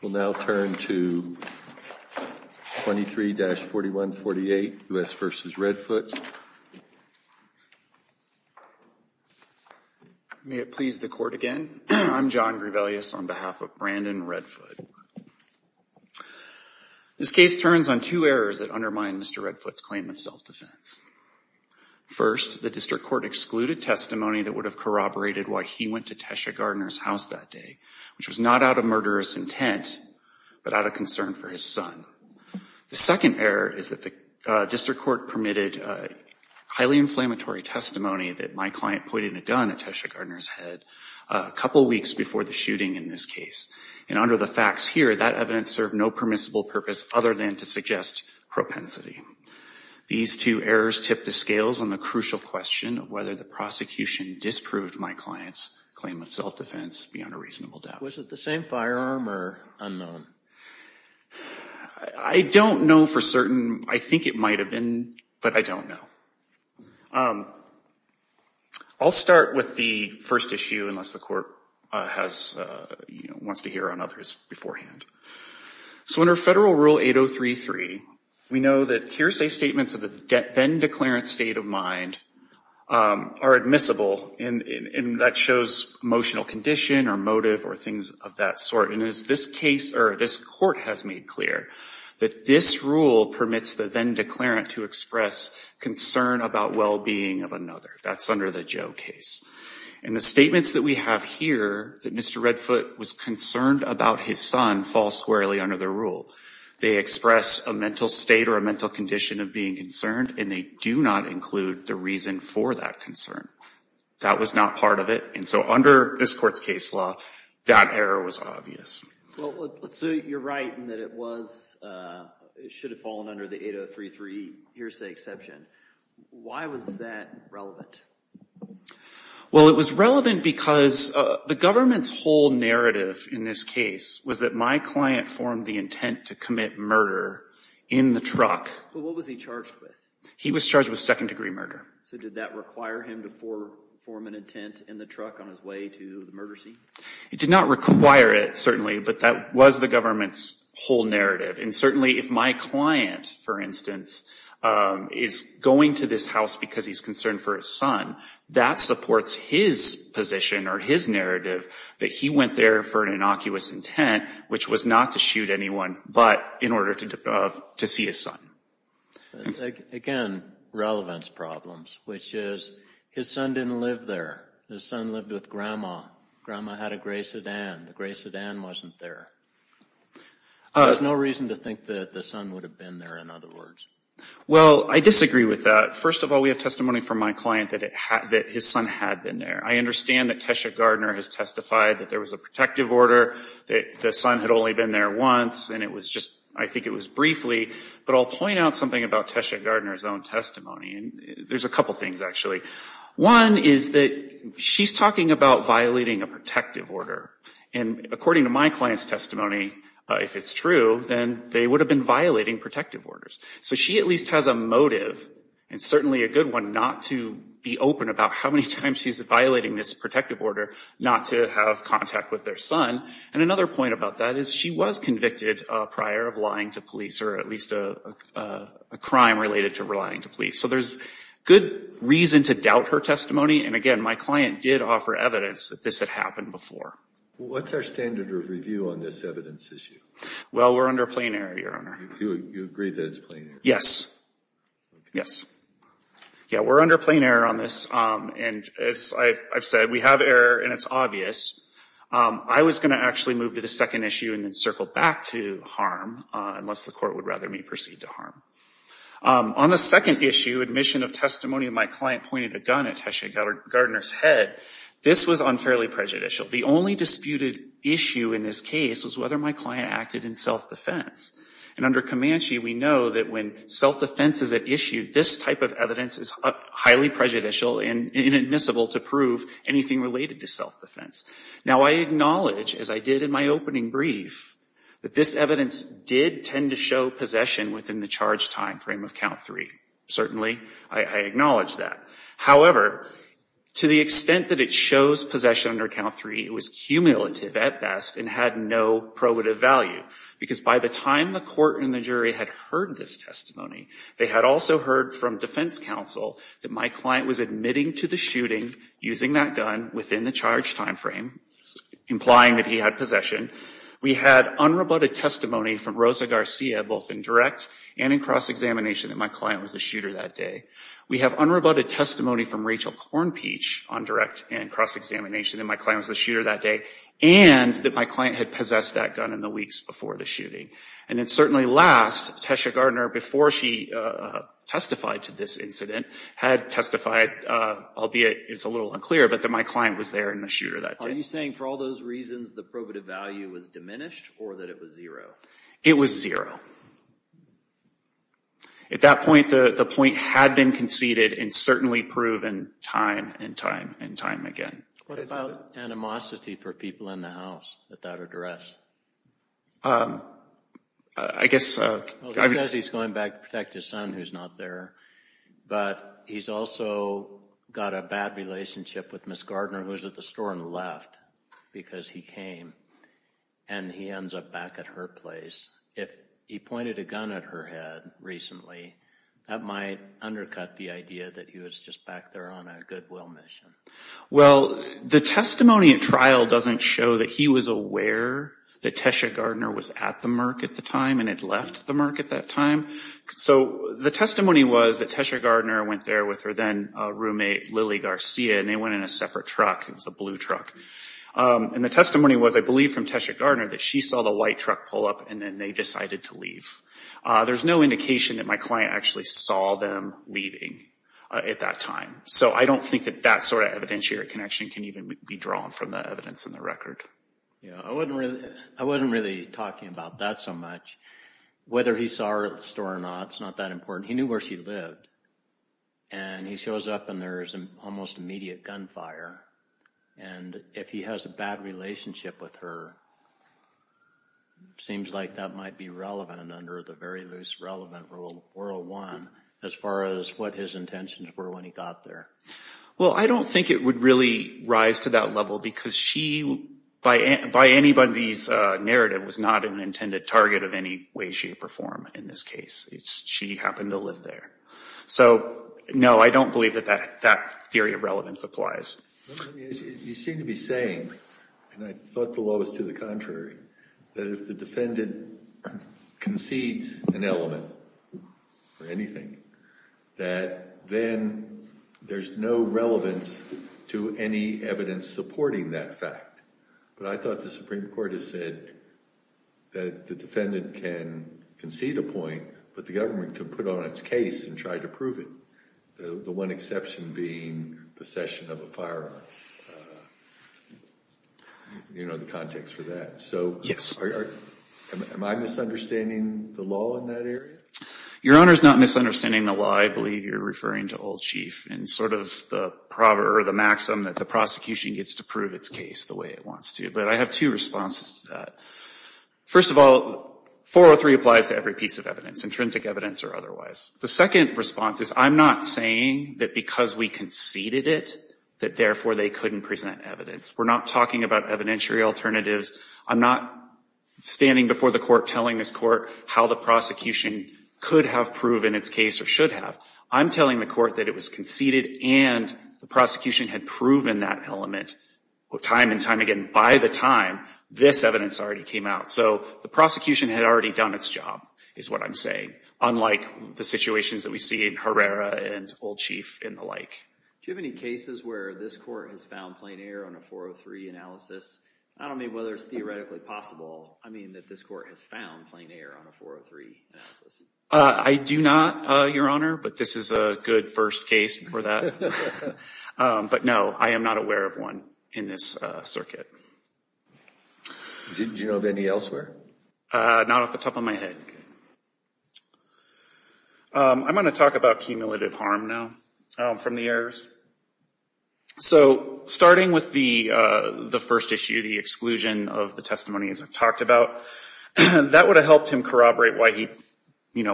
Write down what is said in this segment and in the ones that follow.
We'll now turn to 23-4148, U.S. v. Redfoot. May it please the Court again, I'm John Grebelius on behalf of Brandon Redfoot. This case turns on two errors that undermine Mr. Redfoot's claim of self-defense. First, the District Court excluded testimony that would have corroborated why he went to Tesha Gardner's house that day, which was not out of murderous intent, but out of concern for his son. The second error is that the District Court permitted highly inflammatory testimony that my client pointed a gun at Tesha Gardner's head a couple weeks before the shooting in this case. And under the facts here, that evidence served no permissible purpose other than to suggest propensity. These two errors tip the scales on the crucial question of whether the prosecution disproved my client's claim of self-defense beyond a reasonable doubt. Was it the same firearm or unknown? I don't know for certain. I think it might have been, but I don't know. I'll start with the first issue, unless the Court wants to hear on others beforehand. So under Federal Rule 8033, we know that hearsay statements of the then-declarant state of mind are admissible, and that shows emotional condition or motive or things of that sort. And this Court has made clear that this rule permits the then-declarant to express concern about well-being of another. That's under the Joe case. And the statements that we have here, that Mr. Redfoot was concerned about his son, fall squarely under the rule. They express a mental state or a mental condition of being concerned, and they do not include the reason for that concern. That was not part of it. And so under this Court's case law, that error was obvious. So you're right in that it should have fallen under the 8033 hearsay exception. Why was that relevant? Well, it was relevant because the government's whole narrative in this case was that my client formed the intent to commit murder in the truck. But what was he charged with? He was charged with second-degree murder. So did that require him to form an intent in the truck on his way to the murder scene? It did not require it, certainly, but that was the government's whole narrative. And certainly if my client, for instance, is going to this house because he's concerned for his son, that supports his position or his narrative that he went there for an innocuous intent, which was not to shoot anyone but in order to see his son. Again, relevance problems, which is his son didn't live there. His son lived with Grandma. Grandma had a gray sedan. The gray sedan wasn't there. There's no reason to think that the son would have been there, in other words. Well, I disagree with that. First of all, we have testimony from my client that his son had been there. I understand that Tesha Gardner has testified that there was a protective order, that the son had only been there once, and it was just, I think it was briefly. But I'll point out something about Tesha Gardner's own testimony. And there's a couple things, actually. One is that she's talking about violating a protective order. And according to my client's testimony, if it's true, then they would have been violating protective orders. So she at least has a motive, and certainly a good one, not to be open about how many times she's violating this protective order not to have contact with their son. And another point about that is she was convicted prior of lying to police or at least a crime related to lying to police. So there's good reason to doubt her testimony. And again, my client did offer evidence that this had happened before. Well, what's our standard of review on this evidence issue? Well, we're under plain error, Your Honor. You agree that it's plain error? Yes. Yes. Yeah, we're under plain error on this. And as I've said, we have error, and it's obvious. I was going to actually move to the second issue and then circle back to harm, unless the court would rather me proceed to harm. On the second issue, admission of testimony, my client pointed a gun at Tasha Gardner's head. This was unfairly prejudicial. The only disputed issue in this case was whether my client acted in self-defense. And under Comanche, we know that when self-defense is at issue, this type of evidence is highly prejudicial and inadmissible to prove anything related to self-defense. Now, I acknowledge, as I did in my opening brief, that this evidence did tend to show possession within the charged time frame of count three. Certainly, I acknowledge that. However, to the extent that it shows possession under count three, it was cumulative at best and had no probative value. Because by the time the court and the jury had heard this testimony, they had also heard from defense counsel that my client was admitting to the shooting using that gun within the charged time frame, implying that he had possession. We had unrebutted testimony from Rosa Garcia, both in direct and in cross-examination, that my client was the shooter that day. We have unrebutted testimony from Rachel Cornpeach on direct and cross-examination, that my client was the shooter that day and that my client had possessed that gun in the weeks before the shooting. And then certainly last, Tasha Gardner, before she testified to this incident, had testified, albeit it's a little unclear, but that my client was there and the shooter that day. Are you saying for all those reasons, the probative value was diminished or that it was zero? It was zero. At that point, the point had been conceded and certainly proven time and time and time again. What about animosity for people in the house at that address? I guess... Well, he says he's going back to protect his son who's not there, but he's also got a bad relationship with Ms. Gardner, who was at the store and left because he came and he ends up back at her place. If he pointed a gun at her head recently, that might undercut the idea that he was just back there on a goodwill mission. Well, the testimony at trial doesn't show that he was aware that Tasha Gardner was at the Merck at the time and had left the Merck at that time. So the testimony was that Tasha Gardner went there with her then roommate, Lily Garcia, and they went in a separate truck. It was a blue truck. And the testimony was, I believe, from Tasha Gardner that she saw the white truck pull up and then they decided to leave. There's no indication that my client actually saw them leaving at that time. So I don't think that that sort of evidentiary connection can even be drawn from the evidence in the record. I wasn't really talking about that so much. Whether he saw her at the store or not, it's not that important. He knew where she lived. And he shows up and there's an almost immediate gunfire. And if he has a bad relationship with her, it seems like that might be relevant under the very loose relevant Rule 401 as far as what his intentions were when he got there. Well, I don't think it would really rise to that level because she, by anybody's narrative, was not an intended target of any way, shape, or form in this case. She happened to live there. So, no, I don't believe that that theory of relevance applies. You seem to be saying, and I thought the law was to the contrary, that if the defendant concedes an element or anything, that then there's no relevance to any evidence supporting that fact. But I thought the Supreme Court has said that the defendant can concede a point, but the government can put on its case and try to prove it. The one exception being possession of a firearm. You know the context for that. So, am I misunderstanding the law in that area? Your Honor is not misunderstanding the law. I believe you're referring to Old Chief and sort of the proverb or the maxim that the prosecution gets to prove its case the way it wants to. But I have two responses to that. First of all, 403 applies to every piece of evidence, intrinsic evidence or otherwise. The second response is I'm not saying that because we conceded it, that therefore they couldn't present evidence. We're not talking about evidentiary alternatives. I'm not standing before the court telling this court how the prosecution could have proven its case or should have. I'm telling the court that it was conceded and the prosecution had proven that element. And time and time again, by the time, this evidence already came out. So, the prosecution had already done its job is what I'm saying, unlike the situations that we see in Herrera and Old Chief and the like. Do you have any cases where this court has found plain error on a 403 analysis? I don't know whether it's theoretically possible, I mean, that this court has found plain error on a 403 analysis. I do not, Your Honor, but this is a good first case for that. But no, I am not aware of one in this circuit. Did you know of any elsewhere? Not off the top of my head. I'm going to talk about cumulative harm now from the errors. So, starting with the first issue, the exclusion of the testimony, as I've talked about, that would have helped him corroborate why he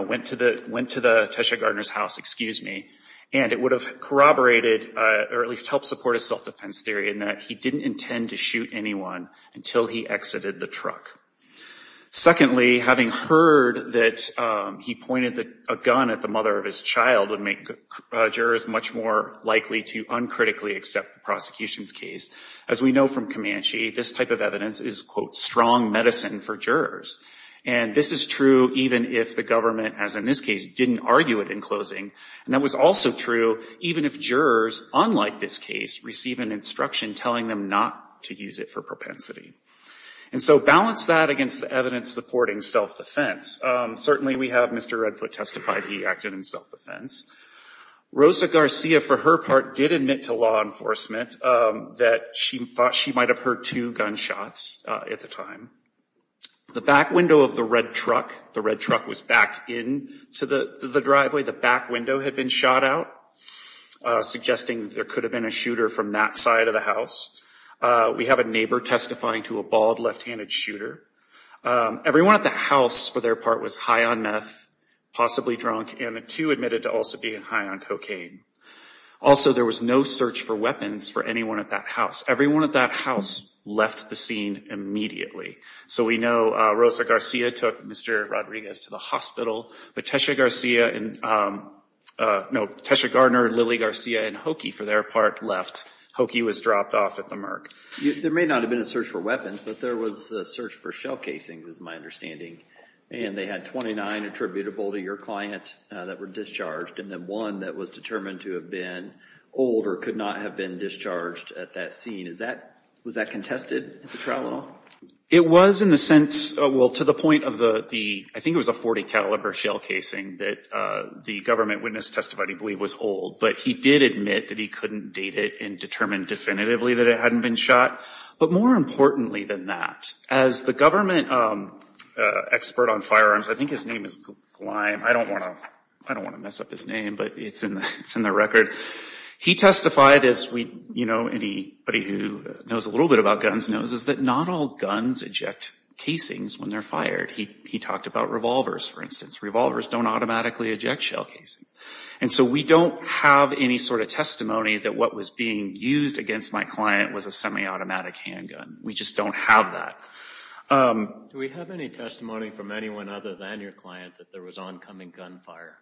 went to the Tesha Gardner's house, excuse me, and it would have corroborated or at least helped support his self-defense theory in that he didn't intend to shoot anyone until he exited the truck. Secondly, having heard that he pointed a gun at the mother of his child would make jurors much more likely to uncritically accept the prosecution's case. As we know from Comanche, this type of evidence is, quote, strong medicine for jurors. And this is true even if the government, as in this case, didn't argue it in closing. And that was also true even if jurors, unlike this case, receive an instruction telling them not to use it for propensity. And so balance that against the evidence supporting self-defense. Certainly we have Mr. Redfoot testify that he acted in self-defense. Rosa Garcia, for her part, did admit to law enforcement that she thought she might have heard two gunshots at the time. The back window of the red truck, the red truck was backed into the driveway, the back window had been shot out, suggesting there could have been a shooter from that side of the house. We have a neighbor testifying to a bald left-handed shooter. Everyone at the house, for their part, was high on meth, possibly drunk, and the two admitted to also being high on cocaine. Also, there was no search for weapons for anyone at that house. Everyone at that house left the scene immediately. So we know Rosa Garcia took Mr. Rodriguez to the hospital. But Tesha Gardner, Lily Garcia, and Hokie, for their part, left. Hokie was dropped off at the Merck. There may not have been a search for weapons, but there was a search for shell casings is my understanding. And they had 29 attributable to your client that were discharged and then one that was determined to have been old or could not have been discharged at that scene. Was that contested at the trial at all? It was in the sense, well, to the point of the, I think it was a .40 caliber shell casing that the government witness testified he believed was old. But he did admit that he couldn't date it and determined definitively that it hadn't been shot. But more importantly than that, as the government expert on firearms, I think his name is Gleim. I don't want to mess up his name, but it's in the record. He testified, as anybody who knows a little bit about guns knows, is that not all guns eject casings when they're fired. He talked about revolvers, for instance. Revolvers don't automatically eject shell casings. And so we don't have any sort of testimony that what was being used against my client was a semi-automatic handgun. We just don't have that. Do we have any testimony from anyone other than your client that there was oncoming gunfire?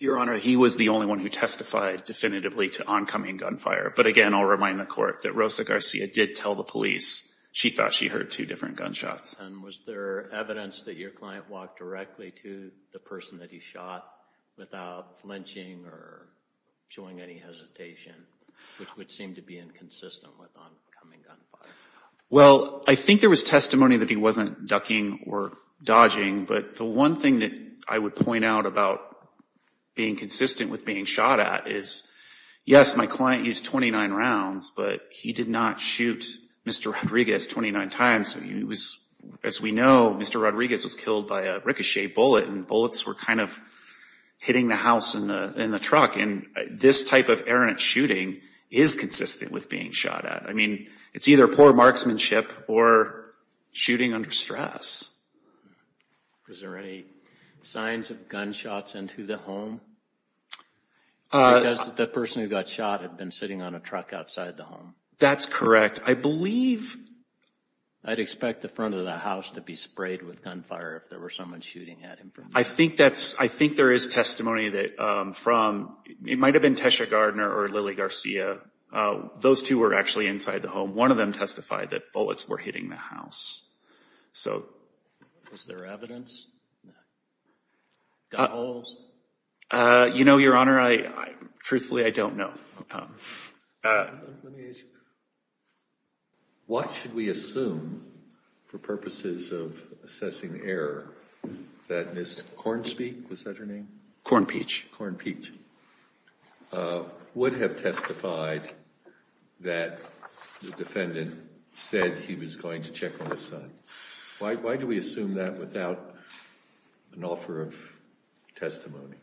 Your Honor, he was the only one who testified definitively to oncoming gunfire. But again, I'll remind the Court that Rosa Garcia did tell the police she thought she heard two different gunshots. And was there evidence that your client walked directly to the person that he shot without flinching or showing any hesitation, which would seem to be inconsistent with oncoming gunfire? Well, I think there was testimony that he wasn't ducking or dodging. But the one thing that I would point out about being consistent with being shot at is, yes, my client used 29 rounds, but he did not shoot Mr. Rodriguez 29 times. As we know, Mr. Rodriguez was killed by a ricochet bullet, and bullets were kind of hitting the house and the truck. And this type of errant shooting is consistent with being shot at. I mean, it's either poor marksmanship or shooting under stress. Was there any signs of gunshots into the home? Because the person who got shot had been sitting on a truck outside the home. That's correct. I believe I'd expect the front of the house to be sprayed with gunfire if there was someone shooting at him. I think there is testimony that it might have been Tesha Gardner or Lily Garcia. Those two were actually inside the home. One of them testified that bullets were hitting the house. So is there evidence? You know, Your Honor, truthfully, I don't know. Let me ask you, what should we assume for purposes of assessing error that Ms. Cornspeak, was that her name? Cornpeach. Cornpeach. Would have testified that the defendant said he was going to check on his son. Why do we assume that without an offer of testimony?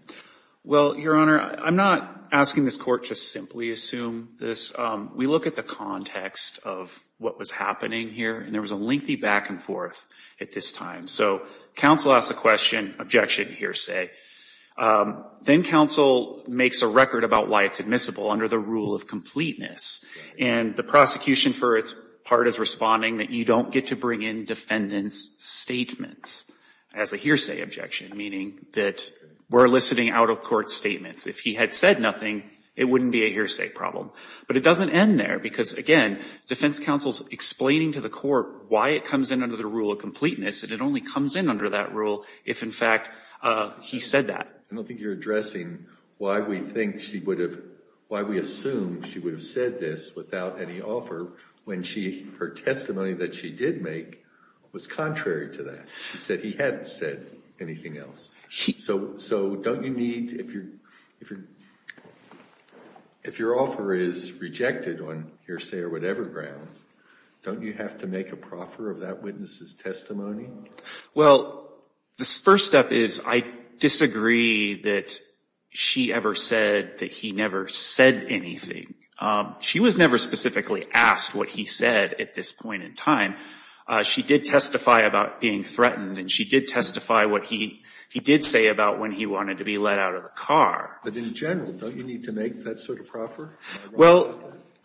Well, Your Honor, I'm not asking this court to simply assume this. We look at the context of what was happening here, and there was a lengthy back and forth at this time. So counsel asks a question, objection, hearsay. Then counsel makes a record about why it's admissible under the rule of completeness. And the prosecution, for its part, is responding that you don't get to bring in defendant's statements as a hearsay objection, meaning that we're eliciting out-of-court statements. If he had said nothing, it wouldn't be a hearsay problem. But it doesn't end there because, again, defense counsel's explaining to the court why it comes in under the rule of completeness, and it only comes in under that rule if, in fact, he said that. I don't think you're addressing why we think she would have, why we assume she would have said this without any offer when her testimony that she did make was contrary to that. She said he hadn't said anything else. So don't you need, if your offer is rejected on hearsay or whatever grounds, don't you have to make a proffer of that witness's testimony? Well, the first step is I disagree that she ever said that he never said anything. She was never specifically asked what he said at this point in time. She did testify about being threatened, and she did testify what he did say about when he wanted to be let out of the car. But in general, don't you need to make that sort of proffer? Well,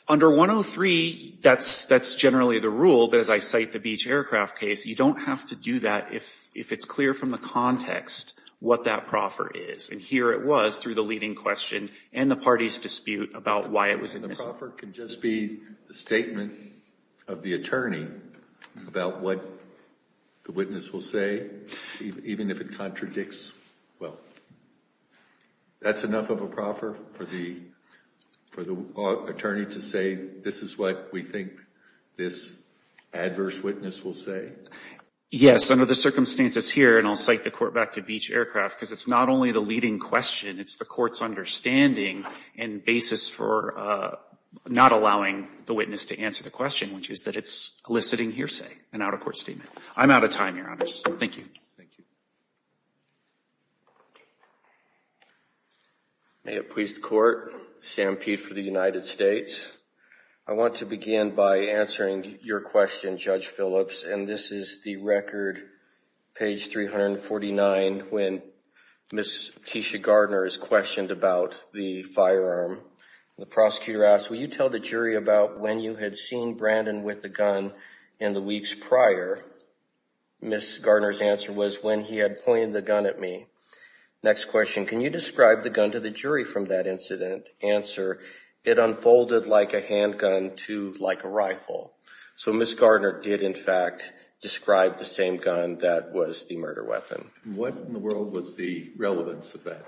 under 103, that's generally the rule. But as I cite the beach aircraft case, you don't have to do that if it's clear from the context what that proffer is. And here it was through the leading question and the party's dispute about why it was admissible. The proffer can just be the statement of the attorney about what the witness will say even if it contradicts. Well, that's enough of a proffer for the attorney to say, this is what we think this adverse witness will say? Yes, under the circumstances here, and I'll cite the court back to beach aircraft, because it's not only the leading question, it's the court's understanding and basis for not allowing the witness to answer the question, which is that it's eliciting hearsay, an out-of-court statement. I'm out of time, Your Honor, so thank you. Thank you. May it please the Court, Sam Peet for the United States. I want to begin by answering your question, Judge Phillips, and this is the record, page 349, when Ms. Tisha Gardner is questioned about the firearm. The prosecutor asks, will you tell the jury about when you had seen Brandon with the gun in the weeks prior? Ms. Gardner's answer was, when he had pointed the gun at me. Next question, can you describe the gun to the jury from that incident? Answer, it unfolded like a handgun to like a rifle. So Ms. Gardner did, in fact, describe the same gun that was the murder weapon. What in the world was the relevance of that?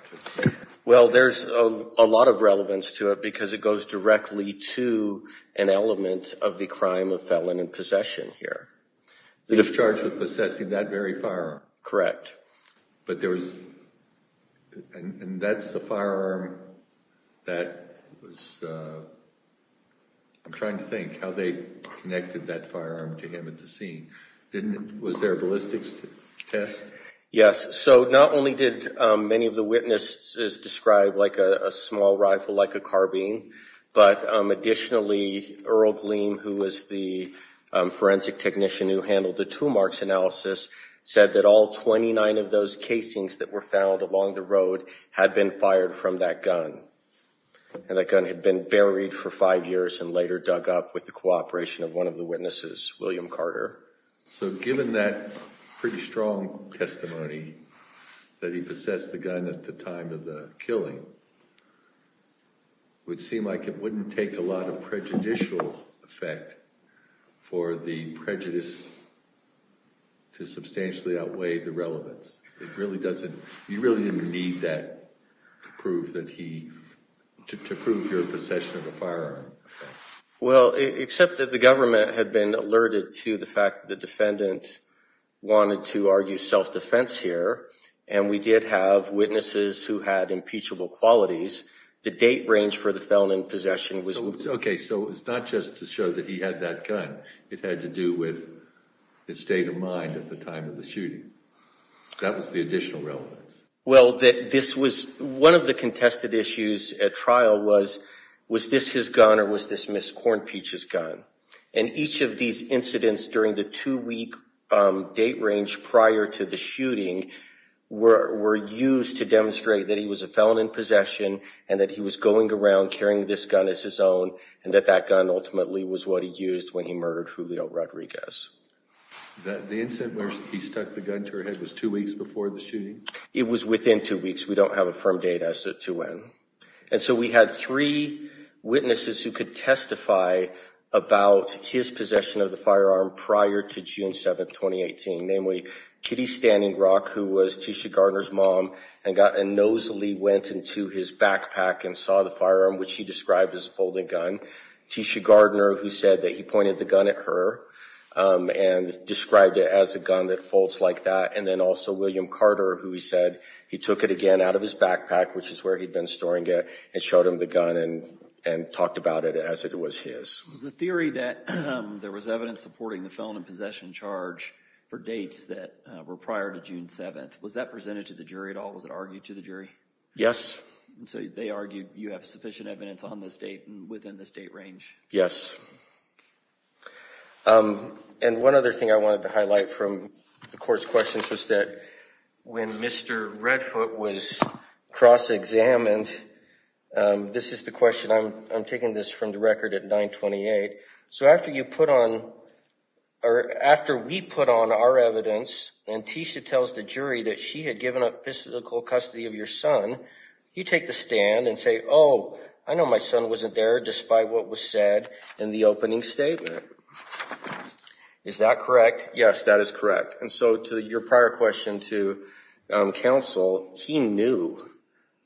Well, there's a lot of relevance to it because it goes directly to an element of the crime of felon in possession here. The discharge of possessing that very firearm. But there was, and that's the firearm that was, I'm trying to think how they connected that firearm to him at the scene. Was there a ballistics test? Yes, so not only did many of the witnesses describe like a small rifle, like a carbine, but additionally, Earl Gleam, who was the forensic technician who handled the two marks analysis, said that all 29 of those casings that were found along the road had been fired from that gun. And that gun had been buried for five years and later dug up with the cooperation of one of the witnesses, William Carter. So given that pretty strong testimony that he possessed the gun at the time of the killing, it would seem like it wouldn't take a lot of prejudicial effect for the prejudice to substantially outweigh the relevance. It really doesn't, you really didn't need that to prove that he, to prove your possession of a firearm. Well, except that the government had been alerted to the fact that the defendant wanted to argue self-defense here. And we did have witnesses who had impeachable qualities. The date range for the felon in possession was- Okay, so it's not just to show that he had that gun. It had to do with his state of mind at the time of the shooting. That was the additional relevance. Well, this was one of the contested issues at trial was, was this his gun or was this Ms. Cornpeach's gun? And each of these incidents during the two-week date range prior to the shooting were used to demonstrate that he was a felon in possession and that he was going around carrying this gun as his own, and that that gun ultimately was what he used when he murdered Julio Rodriguez. The incident where he stuck the gun to her head was two weeks before the shooting? It was within two weeks. We don't have a firm date as to when. And so we had three witnesses who could testify about his possession of the firearm prior to June 7, 2018, namely Kitty Standing Rock, who was Tisha Gardner's mom, and nosily went into his backpack and saw the firearm, which he described as a folding gun. Tisha Gardner, who said that he pointed the gun at her and described it as a gun that folds like that. And then also William Carter, who he said he took it again out of his backpack, which is where he'd been storing it, and showed him the gun and talked about it as if it was his. Was the theory that there was evidence supporting the felon in possession charge for dates that were prior to June 7, was that presented to the jury at all? Was it argued to the jury? Yes. So they argued you have sufficient evidence on this date and within the state range? Yes. And one other thing I wanted to highlight from the court's questions was that when Mr. Redfoot was cross-examined, this is the question, I'm taking this from the record at 9-28. So after you put on, or after we put on our evidence and Tisha tells the jury that she had given up physical custody of your son, you take the stand and say, oh, I know my son wasn't there despite what was said in the opening statement. Is that correct? Yes, that is correct. And so to your prior question to counsel, he knew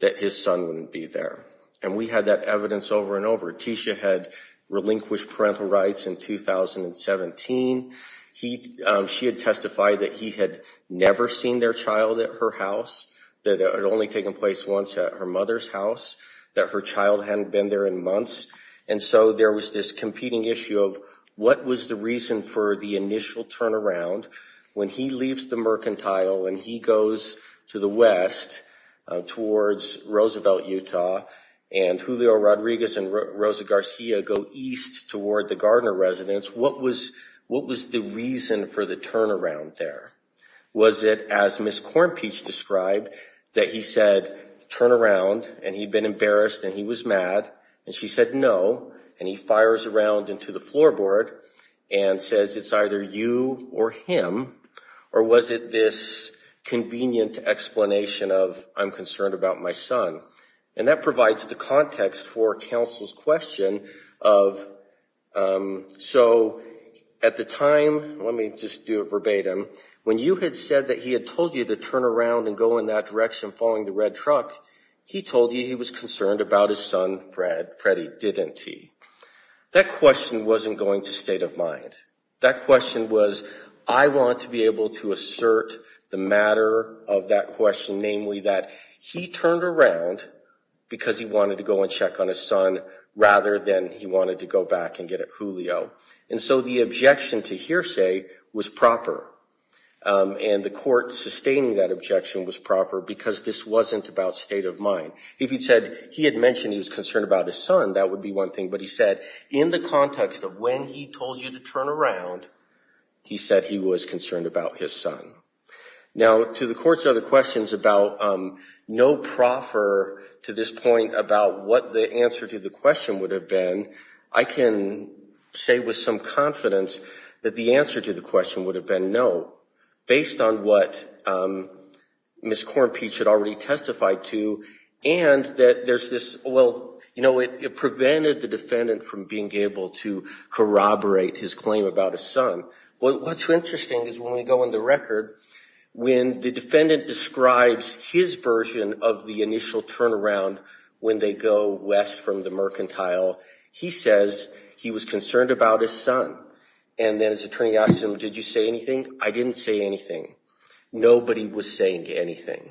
that his son wouldn't be there. And we had that evidence over and over. Tisha had relinquished parental rights in 2017. She had testified that he had never seen their child at her house, that it had only taken place once at her mother's house, that her child hadn't been there in months. And so there was this competing issue of what was the reason for the initial turnaround when he leaves the mercantile and he goes to the west towards Roosevelt, Utah, and Julio Rodriguez and Rosa Garcia go east toward the Gardner residence. What was the reason for the turnaround there? Was it, as Ms. Cornpeach described, that he said, turn around, and he'd been embarrassed and he was mad, and she said no, and he fires around into the floorboard and says it's either you or him? Or was it this convenient explanation of I'm concerned about my son? And that provides the context for counsel's question of, so at the time, let me just do it verbatim, when you had said that he had told you to turn around and go in that direction following the red truck, he told you he was concerned about his son Freddie, didn't he? That question wasn't going to state of mind. That question was, I want to be able to assert the matter of that question, namely, that he turned around because he wanted to go and check on his son rather than he wanted to go back and get at Julio. And so the objection to hearsay was proper. And the court sustaining that objection was proper because this wasn't about state of mind. If he said he had mentioned he was concerned about his son, that would be one thing. But he said in the context of when he told you to turn around, he said he was concerned about his son. Now, to the court's other questions about no proffer to this point about what the answer to the question would have been, I can say with some confidence that the answer to the question would have been no, based on what Ms. Cornpeach had already testified to and that there's this, well, you know, it prevented the defendant from being able to corroborate his claim about his son. What's interesting is when we go in the record, when the defendant describes his version of the initial turnaround, when they go west from the mercantile, he says he was concerned about his son. And then his attorney asks him, did you say anything? I didn't say anything. Nobody was saying anything.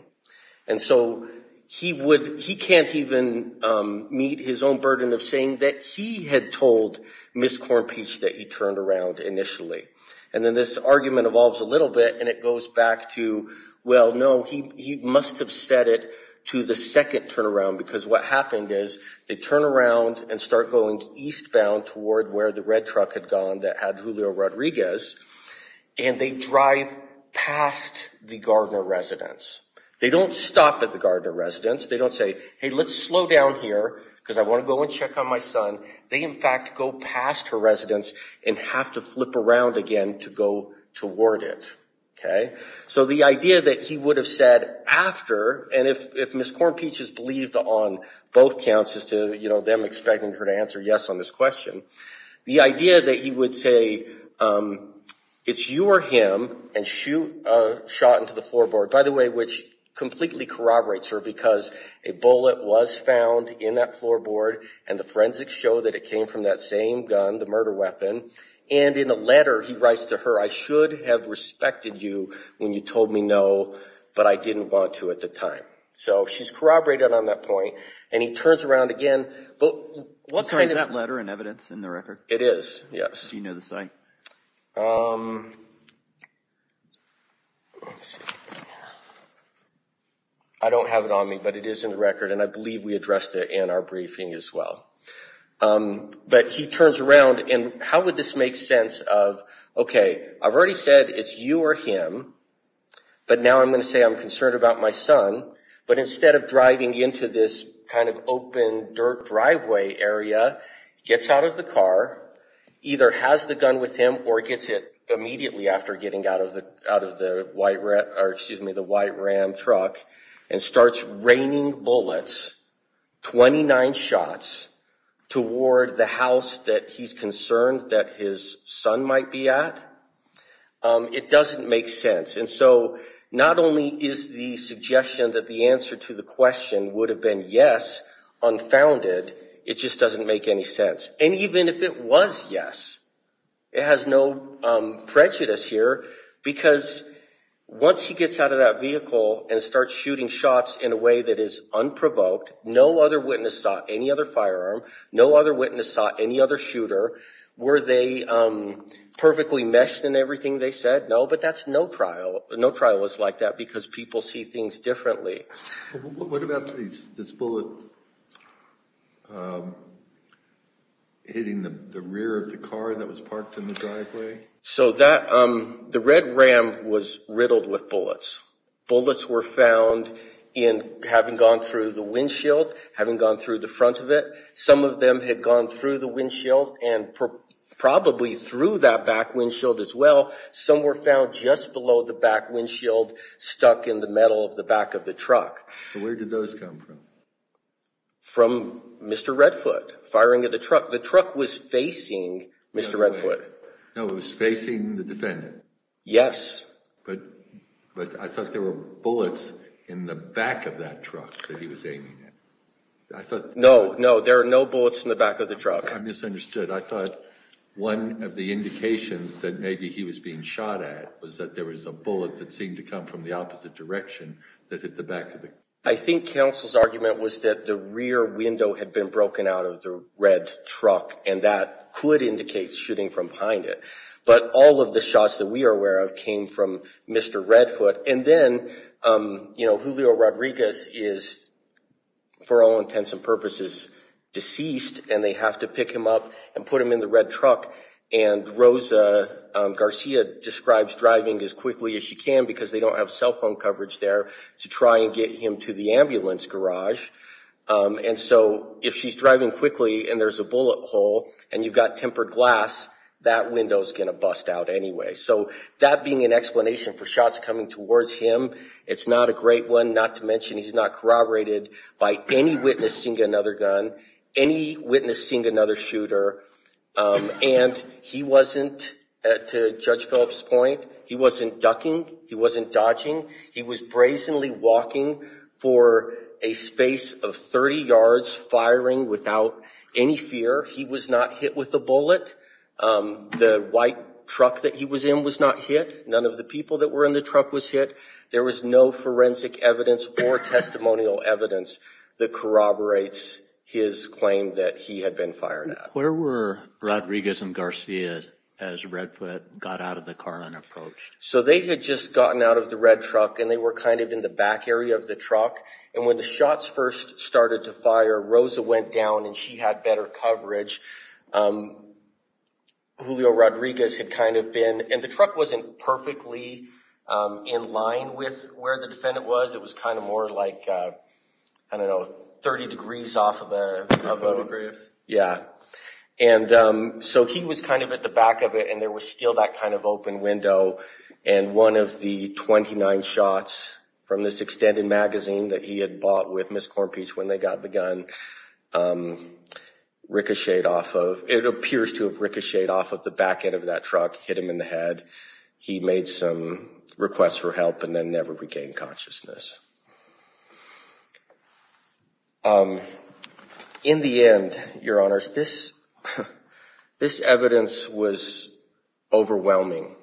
And so he can't even meet his own burden of saying that he had told Ms. Cornpeach that he turned around initially. And then this argument evolves a little bit, and it goes back to, well, no, he must have said it to the second turnaround because what happened is they turn around and start going eastbound toward where the red truck had gone that had Julio Rodriguez, and they drive past the Gardner residence. They don't stop at the Gardner residence. They don't say, hey, let's slow down here because I want to go and check on my son. They, in fact, go past her residence and have to flip around again to go toward it, okay? So the idea that he would have said after, and if Ms. Cornpeach has believed on both counts as to, you know, them expecting her to answer yes on this question, the idea that he would say it's you or him and shoot a shot into the floorboard, by the way, which completely corroborates her because a bullet was found in that floorboard, and the forensics show that it came from that same gun, the murder weapon, and in a letter he writes to her, I should have respected you when you told me no, but I didn't want to at the time. So she's corroborated on that point, and he turns around again. I'm sorry, is that letter in evidence in the record? It is, yes. Do you know the site? I don't have it on me, but it is in the record, and I believe we addressed it in our briefing as well. But he turns around, and how would this make sense of, okay, I've already said it's you or him, but now I'm going to say I'm concerned about my son, but instead of driving into this kind of open dirt driveway area, gets out of the car, either has the gun with him or gets it immediately after getting out of the white Ram truck and starts raining bullets, 29 shots, toward the house that he's concerned that his son might be at, it doesn't make sense. And so not only is the suggestion that the answer to the question would have been yes unfounded, it just doesn't make any sense. And even if it was yes, it has no prejudice here, because once he gets out of that vehicle and starts shooting shots in a way that is unprovoked, no other witness saw any other firearm, no other witness saw any other shooter. Were they perfectly meshed in everything they said? No, but that's no trial. No trial is like that because people see things differently. What about this bullet hitting the rear of the car that was parked in the driveway? So the red Ram was riddled with bullets. Bullets were found in having gone through the windshield, having gone through the front of it. Some of them had gone through the windshield and probably through that back windshield as well. Some were found just below the back windshield, stuck in the metal of the back of the truck. So where did those come from? From Mr. Redfoot firing at the truck. The truck was facing Mr. Redfoot. No, it was facing the defendant. Yes. But I thought there were bullets in the back of that truck that he was aiming at. No, no, there are no bullets in the back of the truck. I misunderstood. I thought one of the indications that maybe he was being shot at was that there was a bullet that seemed to come from the opposite direction that hit the back of the car. I think counsel's argument was that the rear window had been broken out of the red truck, and that could indicate shooting from behind it. But all of the shots that we are aware of came from Mr. Redfoot. And then, you know, Julio Rodriguez is, for all intents and purposes, deceased, and they have to pick him up and put him in the red truck. And Rosa Garcia describes driving as quickly as she can because they don't have cell phone coverage there to try and get him to the ambulance garage. And so if she's driving quickly and there's a bullet hole and you've got tempered glass, that window is going to bust out anyway. So that being an explanation for shots coming towards him, it's not a great one, not to mention he's not corroborated by any witnessing another gun, any witnessing another shooter. And he wasn't, to Judge Phillips' point, he wasn't ducking. He wasn't dodging. He was brazenly walking for a space of 30 yards, firing without any fear. He was not hit with a bullet. The white truck that he was in was not hit. None of the people that were in the truck was hit. There was no forensic evidence or testimonial evidence that corroborates his claim that he had been fired at. Where were Rodriguez and Garcia as Redfoot got out of the car and approached? So they had just gotten out of the red truck, and they were kind of in the back area of the truck. And when the shots first started to fire, Rosa went down and she had better coverage. Julio Rodriguez had kind of been, and the truck wasn't perfectly in line with where the defendant was. It was kind of more like, I don't know, 30 degrees off of a photograph. Yeah. And so he was kind of at the back of it, and there was still that kind of open window. And one of the 29 shots from this extended magazine that he had bought with Miss Cornpeach when they got the gun, ricocheted off of, it appears to have ricocheted off of the back end of that truck, hit him in the head. He made some requests for help and then never regained consciousness. In the end, Your Honors, this evidence was overwhelming.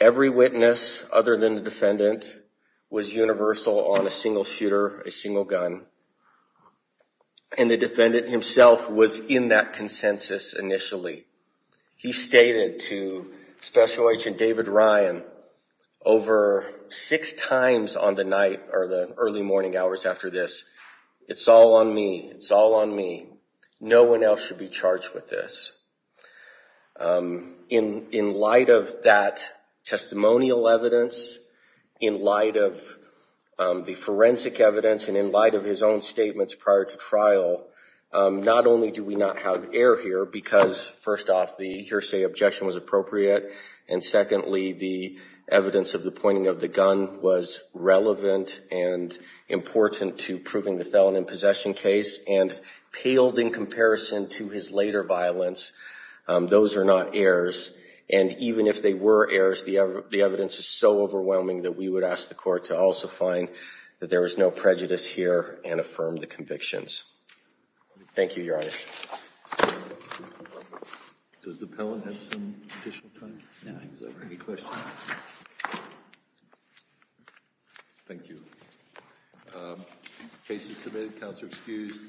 Every witness other than the defendant was universal on a single shooter, a single gun. And the defendant himself was in that consensus initially. He stated to Special Agent David Ryan over six times on the night or the early morning hours after this, it's all on me, it's all on me. No one else should be charged with this. In light of that testimonial evidence, in light of the forensic evidence, and in light of his own statements prior to trial, not only do we not have air here, because first off, the hearsay objection was appropriate, and secondly, the evidence of the pointing of the gun was relevant and important to proving the felon in possession case, and paled in comparison to his later violence. Those are not airs. And even if they were airs, the evidence is so overwhelming that we would ask the court to also find that there was no prejudice here and affirm the convictions. Thank you, Your Honor.